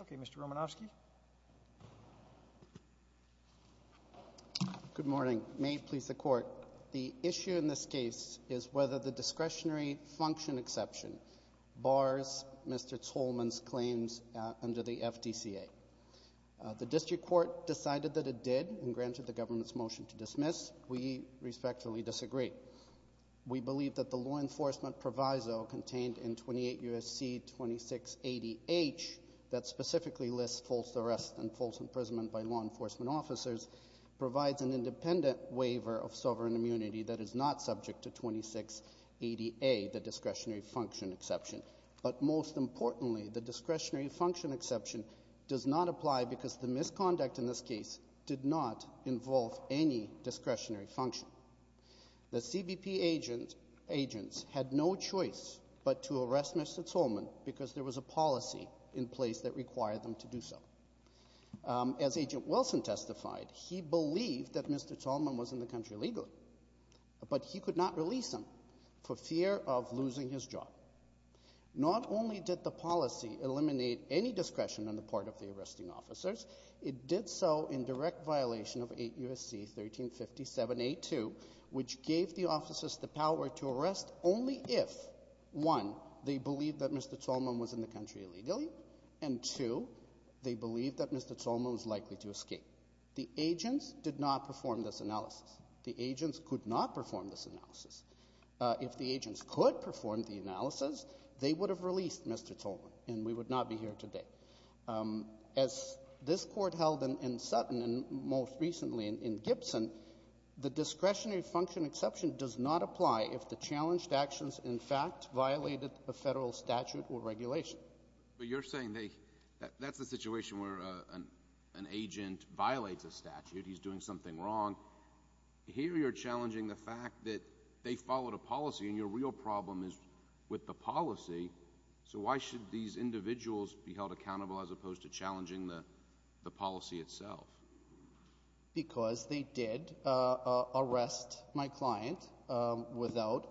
Okay, Mr. Romanofsky. Good morning. May it please the court, the issue in this case is whether the discretionary function exception bars Mr. Tsolmon's claims under the FDCA. The district court decided that it did and granted the government's motion to dismiss. We respectfully disagree. We believe that the law enforcement proviso contained in 28 U.S.C. 2680H, that specifically lists false arrests and false imprisonment by law enforcement officers, an independent waiver of sovereign immunity that is not subject to 2680A, the discretionary function exception. But most importantly, the discretionary function exception does not apply because the misconduct in this case did not involve any discretionary function. The CBP agents had no choice but to arrest Mr. Tsolmon because there was a policy in place that required them to do so. As Agent Wilson testified, he believed that Mr. Tsolmon was in the country illegally, but he could not release him for fear of losing his job. Not only did the policy eliminate any discretion on the part of the arresting officers, it did so in direct violation of 8 U.S.C. 1357A2, which gave the officers the power to arrest only if, one, they believed that Mr. Tsolmon was in the country illegally, and two, they believed that Mr. Tsolmon was likely to escape. The agents did not perform this analysis. The agents could not perform this analysis. If the agents could perform the analysis, they would have released Mr. Tsolmon, and we would not be here today. As this court held in Sutton and most recently in Gibson, the discretionary function exception does not apply if the challenged actions in fact violated a federal statute or regulation. But you're saying that that's the situation where an agent violates a statute, he's doing something wrong. Here you're challenging the fact that they followed a policy, and your real problem is with the policy. So why should these individuals be held accountable as opposed to challenging the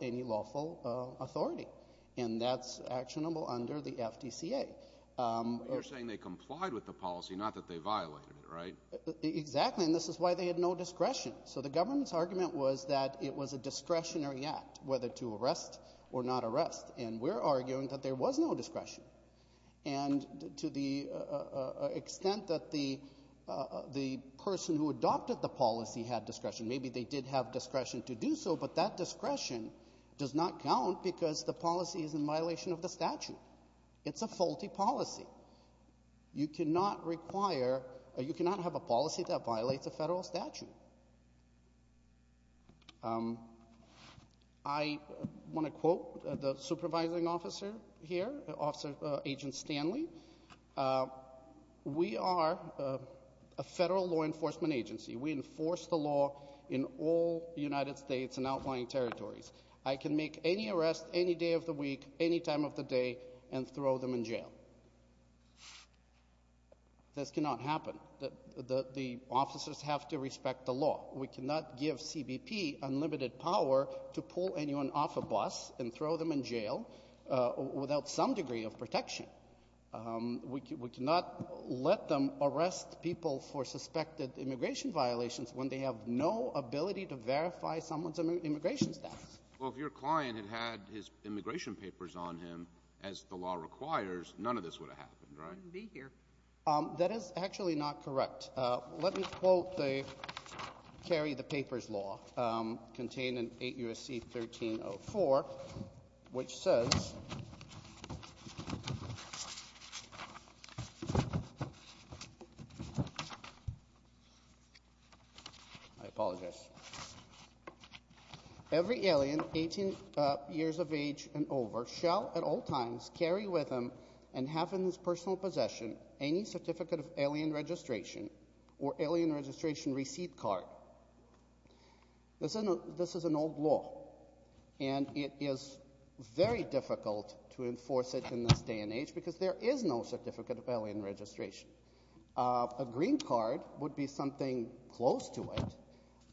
any lawful authority? And that's actionable under the FDCA. You're saying they complied with the policy, not that they violated it, right? Exactly, and this is why they had no discretion. So the government's argument was that it was a discretionary act, whether to arrest or not arrest, and we're arguing that there was no discretion. And to the extent that the person who adopted the policy had discretion, maybe they did have discretion to do so, but that discretion does not count because the policy is in violation of the statute. It's a faulty policy. You cannot have a policy that violates a federal statute. I want to quote the supervising officer here, Agent Stanley. We are a federal law enforcement agency. We enforce the law in all United States and outlying territories. I can make any arrest any day of the week, any time of the day, and throw them in jail. This cannot happen. The officers have to respect the law. We cannot give CBP unlimited power to pull anyone off a bus and throw them in jail without some degree of protection. We cannot let them arrest people for suspected immigration violations when they have no ability to verify someone's immigration status. Well, if your client had had his immigration papers on him, as the law requires, none of this would have happened, right? He wouldn't be here. That is actually not correct. Let me quote the Kerry the Papers law contained in 8 U.S.C. 1304, which says, I apologize, every alien 18 years of age and over shall at all times carry with them and have in his personal possession any certificate of alien registration or alien registration receipt card. This is an old law, and it is very difficult to enforce it in this day and age because there is no certificate of alien registration. A green card would be something close to it,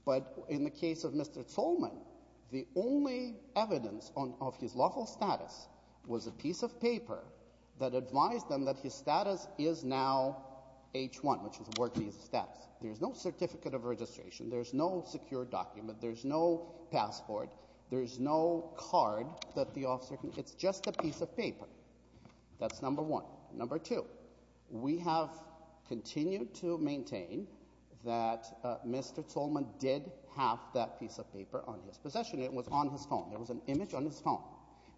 but in the case of Mr. Zolman, the only evidence of his lawful status was a piece of paper that advised them that his status is now H1, which is work visa status. There's no certificate of registration. There's no secure document. There's no passport. There's no card that the officer can, it's just a piece of paper. That's number one. Number two, we have continued to maintain that Mr. Zolman did have that piece of paper on his phone. There was an image on his phone.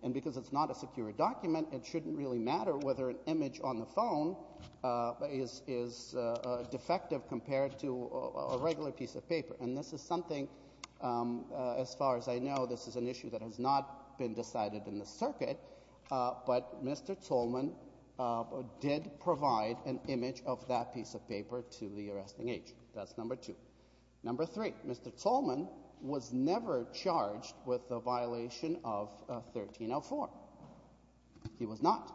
And because it's not a secure document, it shouldn't really matter whether an image on the phone is defective compared to a regular piece of paper. And this is something, as far as I know, this is an issue that has not been decided in the circuit, but Mr. Zolman did provide an image of that piece of paper to the arresting agent. That's number three. He was charged with a violation of 1304. He was not.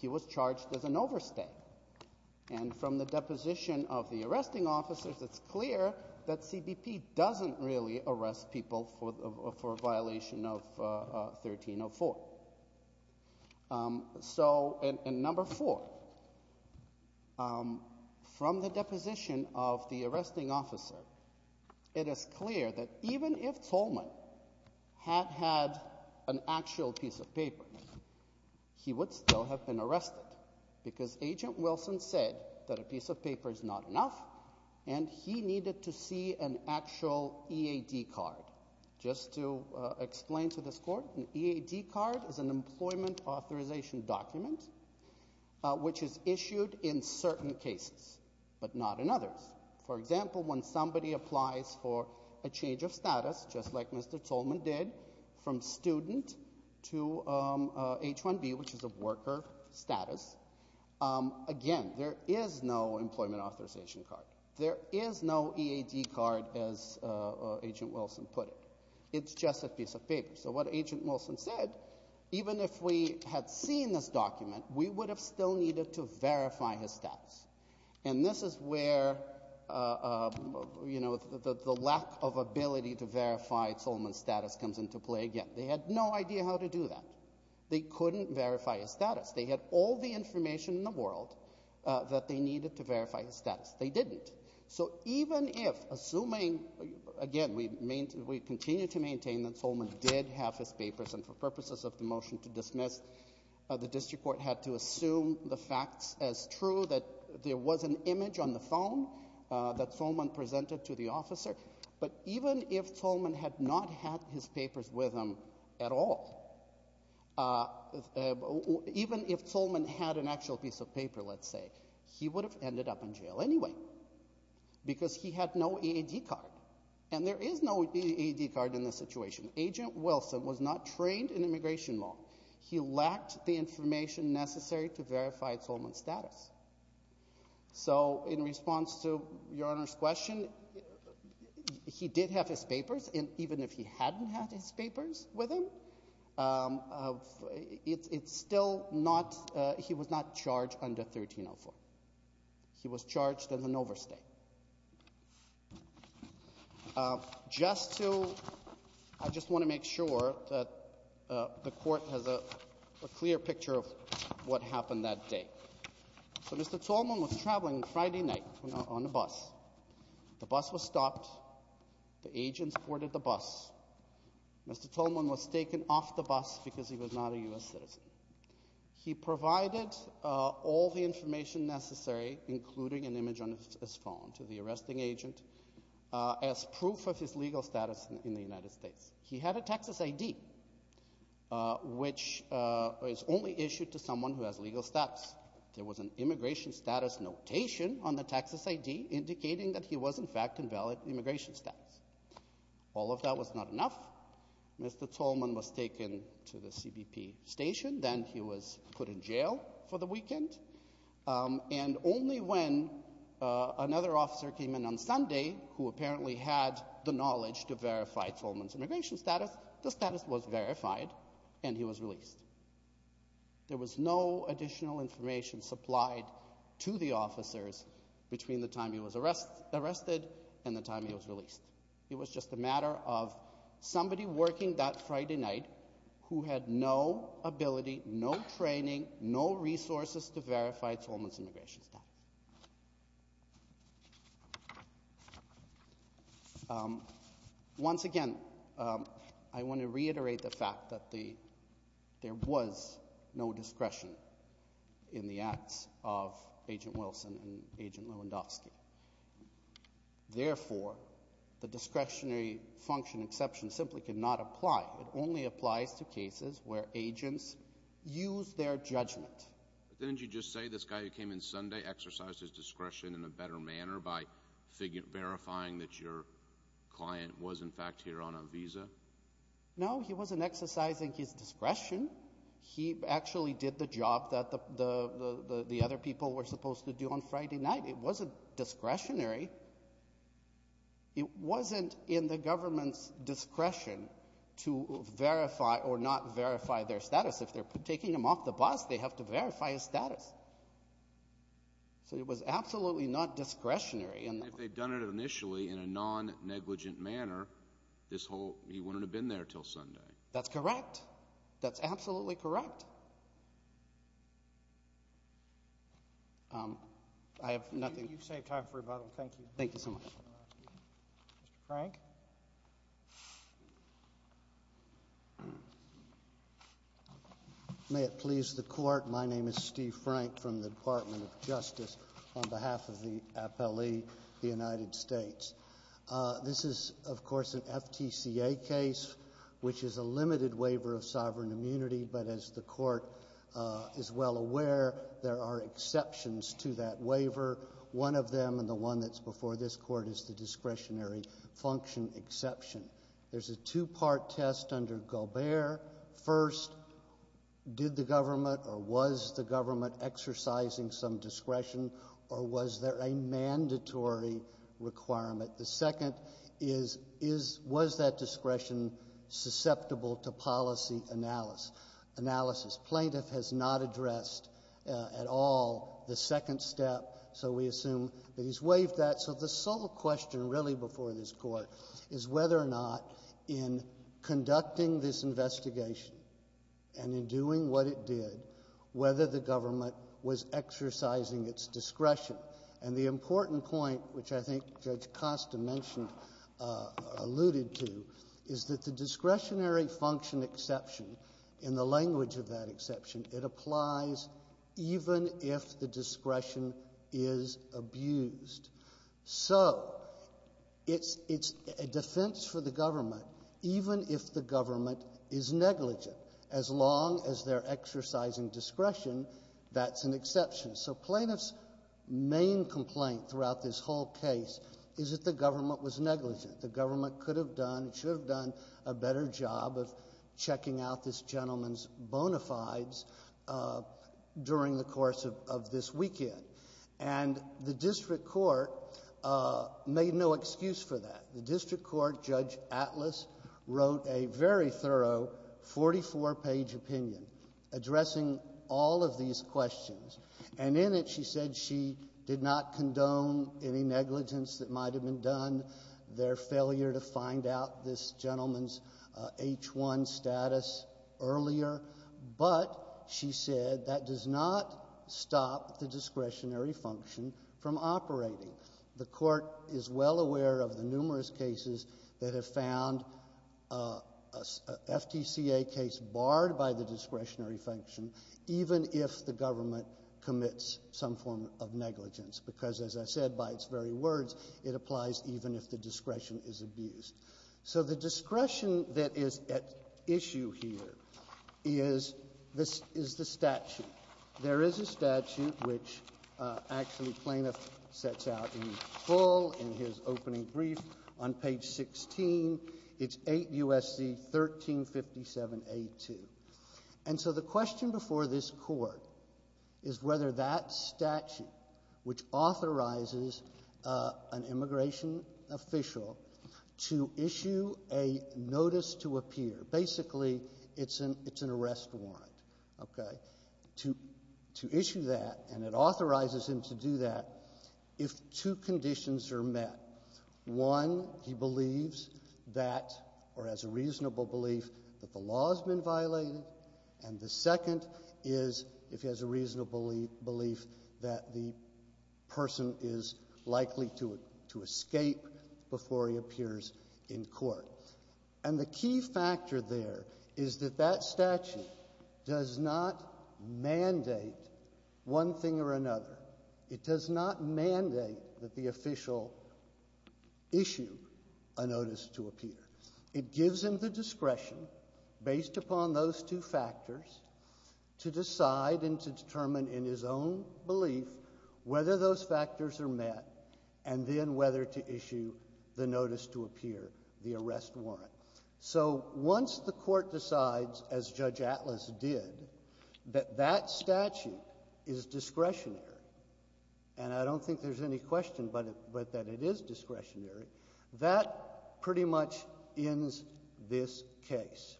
He was charged as an overstay. And from the deposition of the arresting officers, it's clear that CBP doesn't really arrest people for a violation of 1304. So, and number four, from the deposition of the arresting officer, it is clear that even if Zolman had had an actual piece of paper, he would still have been arrested. Because Agent Wilson said that a piece of paper is not enough, and he needed to see an actual EAD card. Just to explain to this court, an EAD card is an employment authorization document, which is issued in certain cases, but not in others. For example, when somebody applies for a change of status, just like Mr. Zolman did, from student to H-1B, which is a worker status, again, there is no employment authorization card. There is no EAD card, as Agent Wilson put it. It's just a piece of paper. So what Agent Wilson said, even if we had seen this document, we would have still needed to verify his status. And this is where, you know, the lack of ability to verify Zolman's status comes into play again. They had no idea how to do that. They couldn't verify his status. They had all the information in the world that they needed to verify his status. They didn't. So even if, assuming, again, we continue to maintain that Zolman did have his EAD card, the district court had to assume the facts as true, that there was an image on the phone that Zolman presented to the officer. But even if Zolman had not had his papers with him at all, even if Zolman had an actual piece of paper, let's say, he would have ended up in jail anyway, because he had no EAD card. And there is no EAD card in this situation. Agent Wilson was not trained in immigration law. He lacked the information necessary to verify Zolman's status. So in response to Your Honor's question, he did have his papers. And even if he hadn't had his papers with him, it's still not, he was not charged under 1304. He was charged as an overstay. Just to, I just want to make sure that the court has a clear picture of what happened that day. So Mr. Zolman was traveling Friday night on the bus. The bus was stopped. The agents boarded the bus. Mr. Zolman was taken off the bus because he was not a U.S. citizen. He provided all the arresting agent as proof of his legal status in the United States. He had a Texas ID, which is only issued to someone who has legal status. There was an immigration status notation on the Texas ID indicating that he was in fact in valid immigration status. All of that was not enough. Mr. Zolman was taken to the CBP station. Then he was put in jail for the weekend. And only when another officer came in on Sunday, who apparently had the knowledge to verify Zolman's immigration status, the status was verified and he was released. There was no additional information supplied to the officers between the time he was arrested and the time he was released. It was just a matter of somebody working that Friday night who had no ability, no training, no resources to verify Zolman's immigration status. Once again, I want to reiterate the fact that there was no discretion in the acts of Agent Wilson and Agent Lewandowski. Therefore, the discretionary function exception simply cannot apply. It only applies to cases where agents use their judgment. Didn't you just say this guy who came in Sunday exercised his discretion in a better manner by verifying that your client was in fact here on a visa? No, he wasn't exercising his discretion. He actually did the job that the other people were supposed to do on Friday night. It wasn't discretionary. It wasn't in the government's discretion to verify or not verify their status. If they're taking him off the bus, they have to verify his status. So it was absolutely not discretionary. And if they'd done it initially in a non-negligent manner, this whole, he wouldn't have been there till Sunday. That's correct. That's absolutely correct. I have nothing. You've saved time for rebuttal. Thank you. Thank you so much. Mr. Frank. May it please the Court. My name is Steve Frank from the Department of Justice on behalf of the appellee, the United States. This is, of course, an FTCA case, which is a limited waiver of sovereign immunity. But as the Court is well aware, there are exceptions to that waiver. One of them, and the one that's before this Court, is the discretionary function exception. There's a two-part test under Gobert. First, did the government or was the government exercising some discretion, or was there a mandatory requirement? The second is, is, was that analysis? Plaintiff has not addressed at all the second step, so we assume that he's waived that. So the sole question really before this Court is whether or not in conducting this investigation and in doing what it did, whether the government was exercising its discretion. And the important point, which I think Judge Costa mentioned, alluded to, is that the discretionary function exception, in the language of that exception, it applies even if the discretion is abused. So it's, it's a defense for the government even if the government is negligent. As long as they're exercising discretion, that's an exception. So plaintiff's main complaint throughout this whole case is that the government was negligent. The government could have done, should have done a better job of checking out this gentleman's bona fides during the course of this weekend. And the district court made no excuse for that. The district court, Judge Atlas, wrote a very thorough 44-page opinion addressing all of these questions. And in it, she said she did not condone any negligence that might have been done, their failure to find out this gentleman's H-1 status earlier. But she said that does not stop the discretionary function from operating. The Court is well aware of the numerous cases that have found a FTCA case barred by the discretionary function, even if the government commits some form of negligence. Because, as I said, by its very words, it applies even if the discretion is abused. So the discretion that is at issue here is the statute. There is a statute which actually plaintiff sets out in full in his opening brief on page 16. It's 8 U.S.C. 1357A2. And so the statute authorizes an immigration official to issue a notice to appear. Basically, it's an arrest warrant. Okay? To issue that, and it authorizes him to do that, if two conditions are met. One, he believes that, or has a reasonable belief, that the law has been violated. And the second is, if he has a reasonable belief, that the person is likely to escape before he appears in court. And the key factor there is that that statute does not mandate one thing or another. It does not mandate that the official issue a notice to appear. It gives him the discretion, based upon those two factors, to decide and to determine in his own belief whether those factors are met, and then whether to issue the notice to appear, the arrest warrant. So once the Court decides, as Judge Atlas did, that that statute is discretionary, and I don't think there's any question but that it is discretionary, that pretty much ends this case.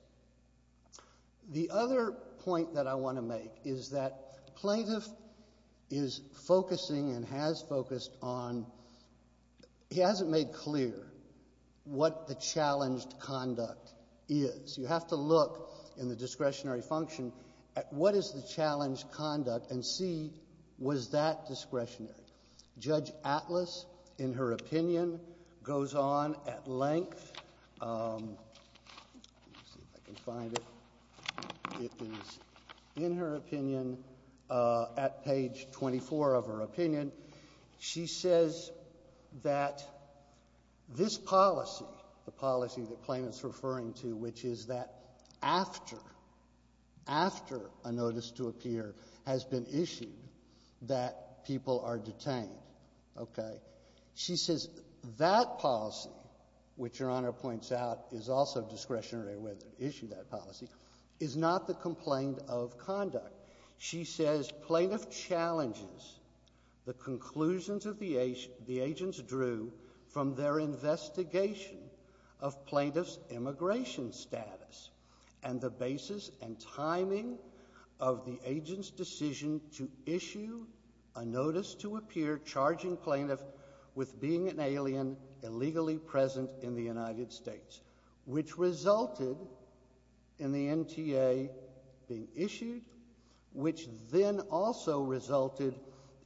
The other point that I want to make is that plaintiff is focusing and has focused on he hasn't made clear what the challenged conduct is. You have to look in the discretionary function at what is the challenged conduct and see was that discretionary. Judge Atlas, in her opinion, goes on at length. Let me see if I can find it. It is, in her opinion, at page 24 of her opinion, she says that this policy, the policy that Plaintiff's referring to, which is that after, after a notice to appear has been issued, that she says that policy, which Your Honor points out is also discretionary, whether to issue that policy, is not the complaint of conduct. She says Plaintiff challenges the conclusions of the agents drew from their investigation of Plaintiff's immigration status and the basis and timing of the agent's decision to issue a notice to appear charging Plaintiff with being an alien illegally present in the United States, which resulted in the NTA being issued, which then also resulted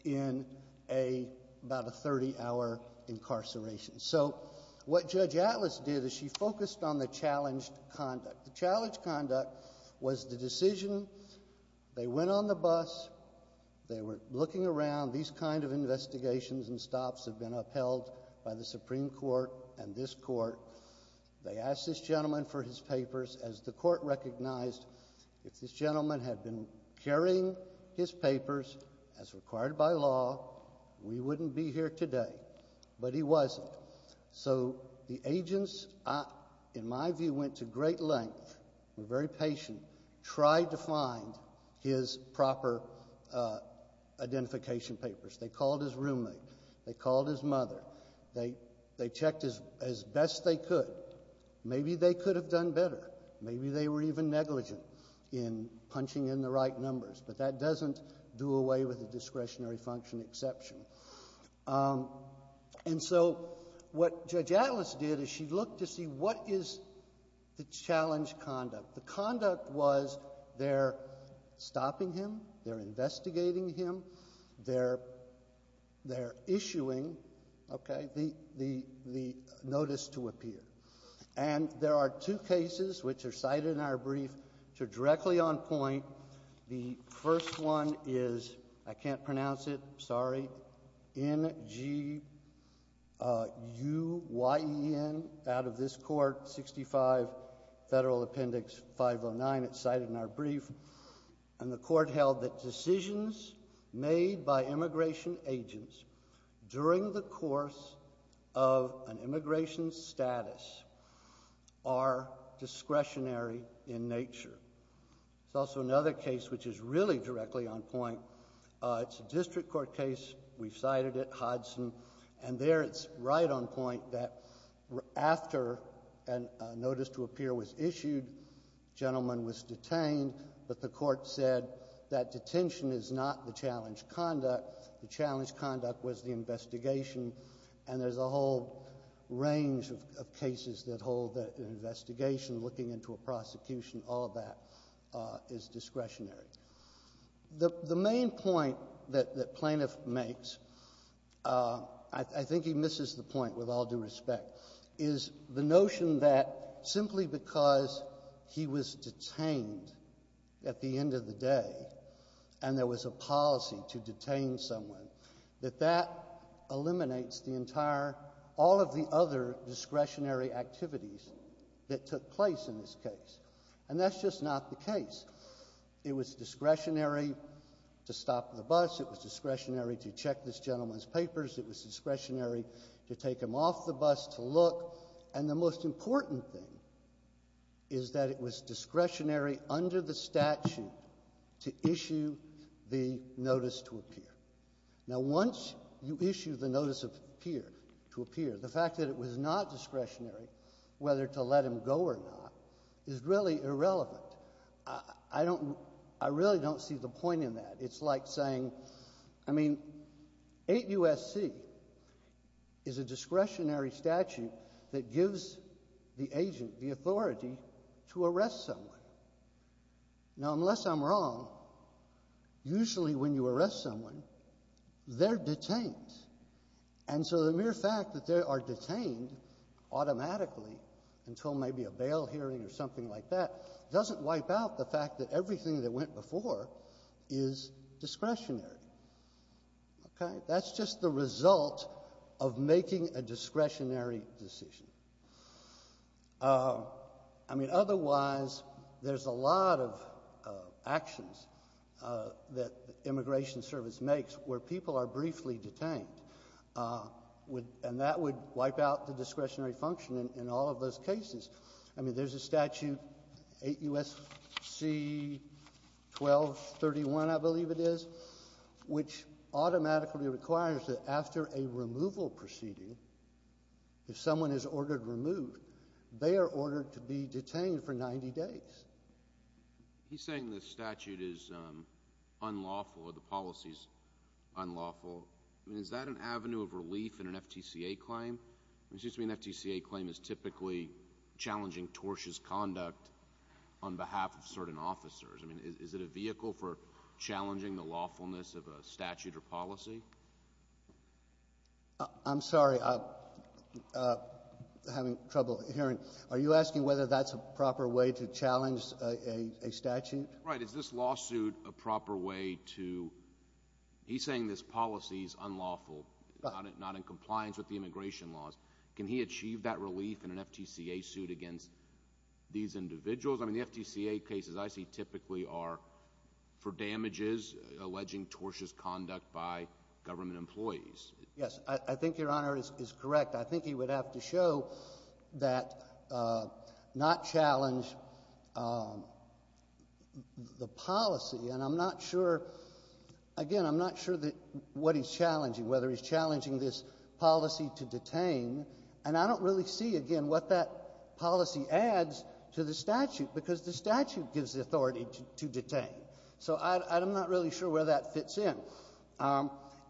in a, about a 30-hour incarceration. So what Judge Atlas did is she focused on the challenged conduct. The challenged conduct was the decision, they went on the bus, they were looking around. These kind of investigations and stops have been upheld by the Supreme Court and this Court. They asked this gentleman for his papers. As the Court recognized, if this gentleman had been carrying his papers as required by law, we wouldn't be here today. But he wasn't. So the agents, in my view, went to great length, were very patient, tried to find his proper identification papers. They called his roommate. They called his mother. They checked as best they could. Maybe they could have done better. Maybe they were even negligent in punching in the right numbers. But that doesn't do away with the discretionary function exception. And so what Judge Atlas did is she looked to see what is the challenged conduct. The conduct was they're stopping him, they're investigating him, they're issuing, okay, the notice to appear. And there are two cases which are cited in our brief, two directly on point. The first one is, I can't pronounce it, sorry, N-G-U-Y-E-N, out of this Court, 65 Federal Appendix 509. It's cited in our brief. And the Court held that decisions made by immigration agents during the course of an immigration status are discretionary in nature. There's also another case which is really directly on point. It's a district court case. We've cited it, Hodgson. And there it's right on point that after a notice to appear was issued, the gentleman was detained, but the Court said that detention is not the The challenged conduct was the investigation. And there's a whole range of cases that hold that an investigation, looking into a prosecution, all of that is discretionary. The main point that Plaintiff makes, I think he misses the point with all due respect, is the notion that simply because he was detained at the end of the day and there was a policy to detain someone, that that eliminates the entire, all of the other discretionary activities that took place in this case. And that's just not the case. It was discretionary to stop the bus. It was discretionary to check this gentleman's papers. It was discretionary to take him off the bus to look. And the most important thing is that it was discretionary under the statute to issue the notice to appear. Now, once you issue the notice to appear, the fact that it was not discretionary, whether to let him go or not, is really irrelevant. I really don't see the point in that. It's like saying, I mean, 8 U.S.C. is a discretionary that gives the agent the authority to arrest someone. Now, unless I'm wrong, usually when you arrest someone, they're detained. And so the mere fact that they are detained automatically until maybe a bail hearing or something like that doesn't wipe out the fact that everything that went before is discretionary. Okay? That's just the result of making a discretionary decision. I mean, otherwise, there's a lot of actions that the Immigration Service makes where people are briefly detained, and that would wipe out the discretionary function in all of those cases. I mean, there's a statute, 8 U.S.C. 1231, I believe it is, which automatically requires that after a removal proceeding, if someone is ordered removed, they are ordered to be detained for 90 days. He's saying the statute is unlawful or the policy is unlawful. I mean, is that an avenue of relief in an FTCA claim? It seems to me an FTCA claim is typically challenging tortious conduct on behalf of certain officers. I mean, is it a vehicle for challenging the lawfulness of a statute or policy? I'm sorry. I'm having trouble hearing. Are you asking whether that's a proper way to challenge a statute? Right. Is this lawsuit a proper way to — he's saying this policy is unlawful, not in compliance with the immigration laws. Can he achieve that relief in an FTCA suit against these individuals? I mean, the FTCA cases I see typically are for damages, alleging tortious conduct by government employees. Yes. I think Your Honor is correct. I think he would have to show that — not challenge the policy. And I'm not sure — again, I'm not sure what he's challenging, whether he's challenging this policy to detain. And I don't really see, again, what that policy adds to the statute, because the statute gives the authority to detain. So I'm not really sure where that fits in.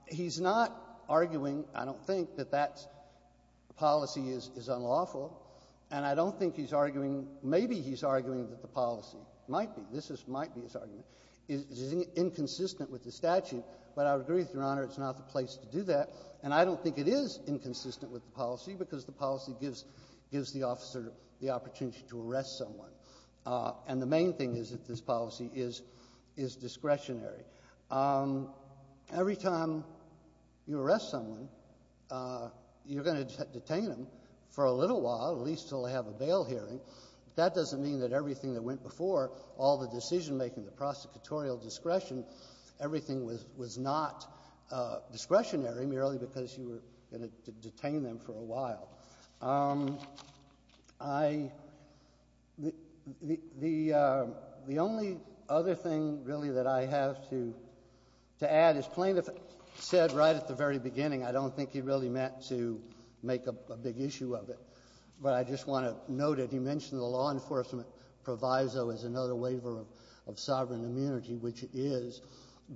He's not arguing, I don't think, that that policy is unlawful. And I don't think he's arguing — maybe he's arguing that the policy might be. This might be his argument. It is inconsistent with the statute, but I would agree with Your Honor, it's not the place to do that. And I don't think it is inconsistent with the policy, because the policy gives — gives the officer the opportunity to arrest someone. And the main thing is that this policy is — is discretionary. Every time you arrest someone, you're going to detain them for a little while, at least until they have a bail hearing. That doesn't mean that everything that went before, all the decision-making, the prosecutorial discretion, everything was — was not discretionary merely because you were going to detain them for a while. I — the — the only other thing, really, that I have to — to add is plaintiff said right at the very beginning, I don't think he really meant to make a big issue of it, but I just want to note it. He mentioned the law enforcement proviso as another waiver of — of sovereign immunity, which it is,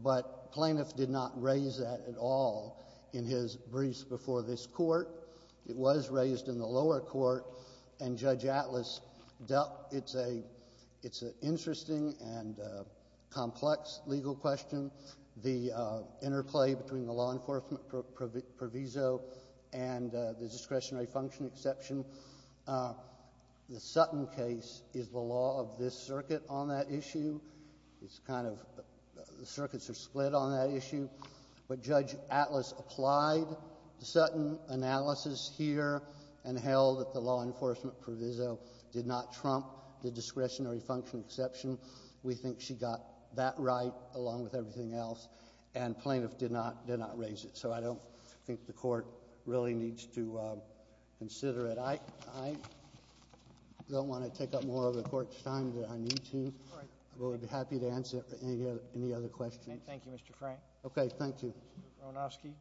but plaintiff did not raise that at all in his briefs before this Court. It was raised in the lower court, and Judge Atlas dealt — it's a — it's an interesting and complex legal question. The interplay between the law enforcement proviso and the discretionary function exception, the Sutton case is the law of this circuit on that issue. It's kind of — the circuits are split on that issue. But Judge Atlas applied the Sutton analysis here and held that the law enforcement proviso did not trump the discretionary function exception. We think she got that right along with everything else, and plaintiff did not — did not raise it. So I don't think the Court really needs to consider it. I — I don't want to take up more of the Court's time than I need to, but I'd be happy to answer any other — any other questions. Thank you, Mr. Frank. Okay. Thank you. Mr. Romanofsky.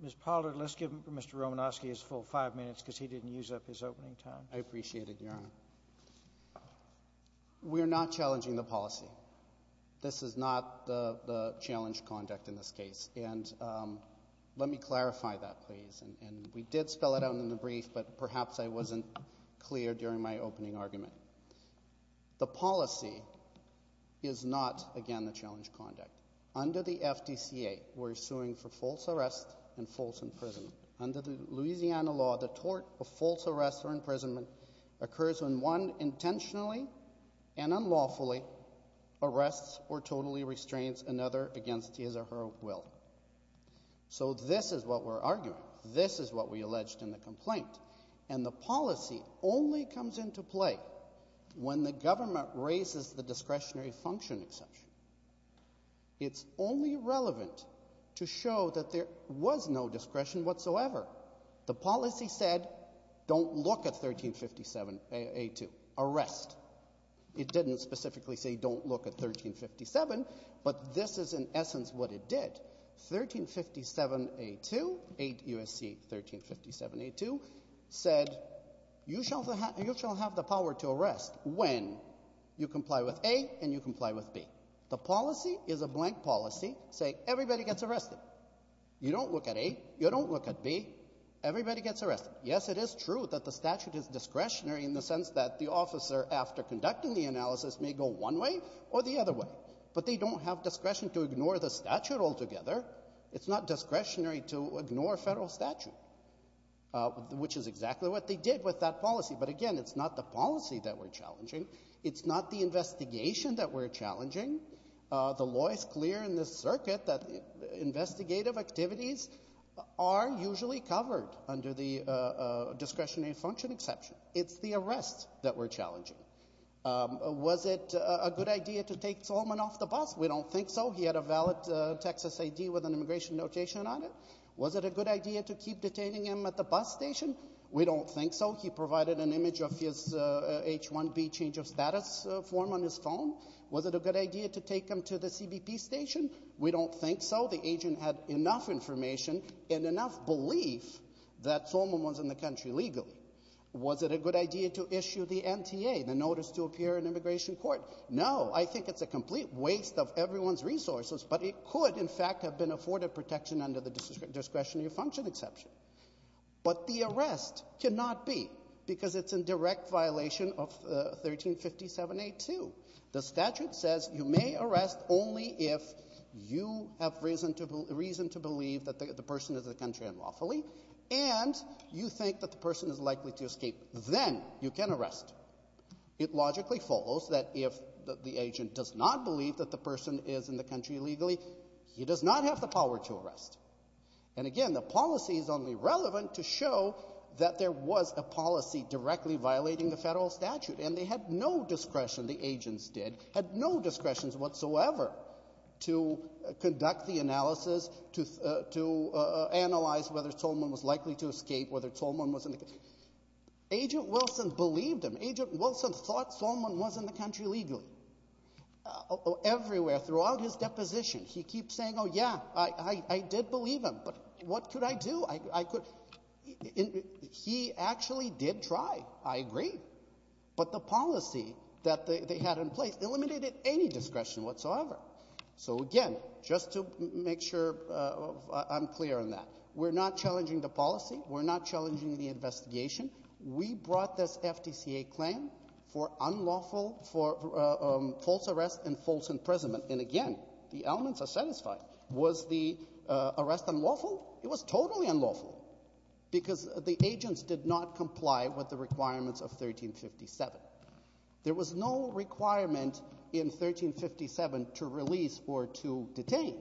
Ms. Pollard, let's give Mr. Romanofsky his full five minutes because he didn't use up his opening time. I appreciate it, Your Honor. We are not challenging the policy. This is not the — the challenged conduct in this case. And let me clarify that, please. And we did spell it out in the brief, but perhaps I wasn't clear during my opening argument. The policy is not, again, the challenged conduct. Under the FDCA, we're suing for false arrest and false imprisonment. Under the Louisiana law, the tort of false arrest or imprisonment occurs when one intentionally and unlawfully arrests or totally restrains another against his or her will. So this is what we're arguing. This is what we alleged in the complaint. And the policy only comes into play when the government raises the discretionary function exception. It's only relevant to show that there was no discretion whatsoever. The policy said, don't look at 1357A2, arrest. It didn't specifically say, don't look at 1357, but this is in essence what it did. 1357A2, 8 U.S.C. 1357A2, said, you shall have the power to arrest when you comply with A and you comply with B. The policy is a blank policy saying, everybody gets arrested. You don't look at A. You don't look at B. Everybody gets arrested. Yes, it is true that the statute is discretionary in the sense that the officer, after conducting the analysis, may go one way or the other way. But they don't have discretion to ignore the statute altogether. It's not discretionary to ignore federal statute, which is exactly what they did with that policy. But again, it's not the policy that we're challenging. It's not the investigation that we're challenging. The law is clear in this circuit that investigative activities are usually covered under the discretionary function exception. It's the arrest that we're challenging. Was it a good idea to take Solman off the bus? We don't think so. He had a valid Texas A.D. with an immigration notation on it. Was it a good idea to keep detaining him at the bus station? We don't think so. He provided an image of his H-1B change of status form on his phone. Was it a good idea to take him to the CBP station? We don't think so. The agent had enough information and enough belief that Solman was in the country legally. Was it a good idea to issue the NTA, the Notice to Appear in Immigration Court? No. I think it's a complete waste of everyone's resources. But it could, in fact, have been afforded protection under the discretionary function exception. But the arrest cannot be, because it's in direct violation of 1357a2. The statute says you may arrest only if you have reason to believe that the person is in the country unlawfully and you think that the person is likely to escape. Then you can arrest. It logically follows that if the agent does not believe that the person is in the country legally, he does not have the power to arrest. And again, the policy is only relevant to show that there was a policy directly violating the federal statute. And they had no discretion, the agents did, had no discretions whatsoever to conduct the analysis, to analyze whether Solman was likely to escape, whether Solman was in the country. Agent Wilson believed him. Agent Wilson thought Solman was in the country legally. Everywhere, throughout his deposition, he keeps saying, oh, yeah, I did believe him. But what could I do? He actually did try. I agree. But the policy that they had in place eliminated any discretion whatsoever. So again, just to make sure I'm clear on that, we're not challenging the policy. We're not challenging the investigation. We brought this FDCA claim for unlawful, for false arrest and false imprisonment. And again, the elements are satisfied. Was the arrest unlawful? It was totally unlawful because the agents did not comply with the requirements of 1357. There was no requirement in 1357 to release or to detain,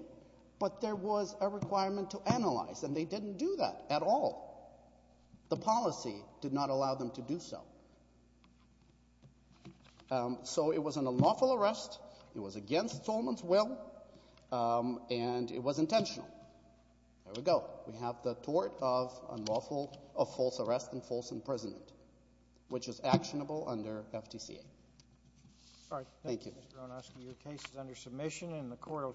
but there was a requirement to analyze, and they didn't do that at all. The policy did not allow them to do so. So it was an unlawful arrest. It was against Solman's will, and it was intentional. There we go. We have the tort of unlawful, of false arrest and false imprisonment, which is actionable under FDCA. All right. Thank you. Mr. Onosky, your case is under submission, and the court will.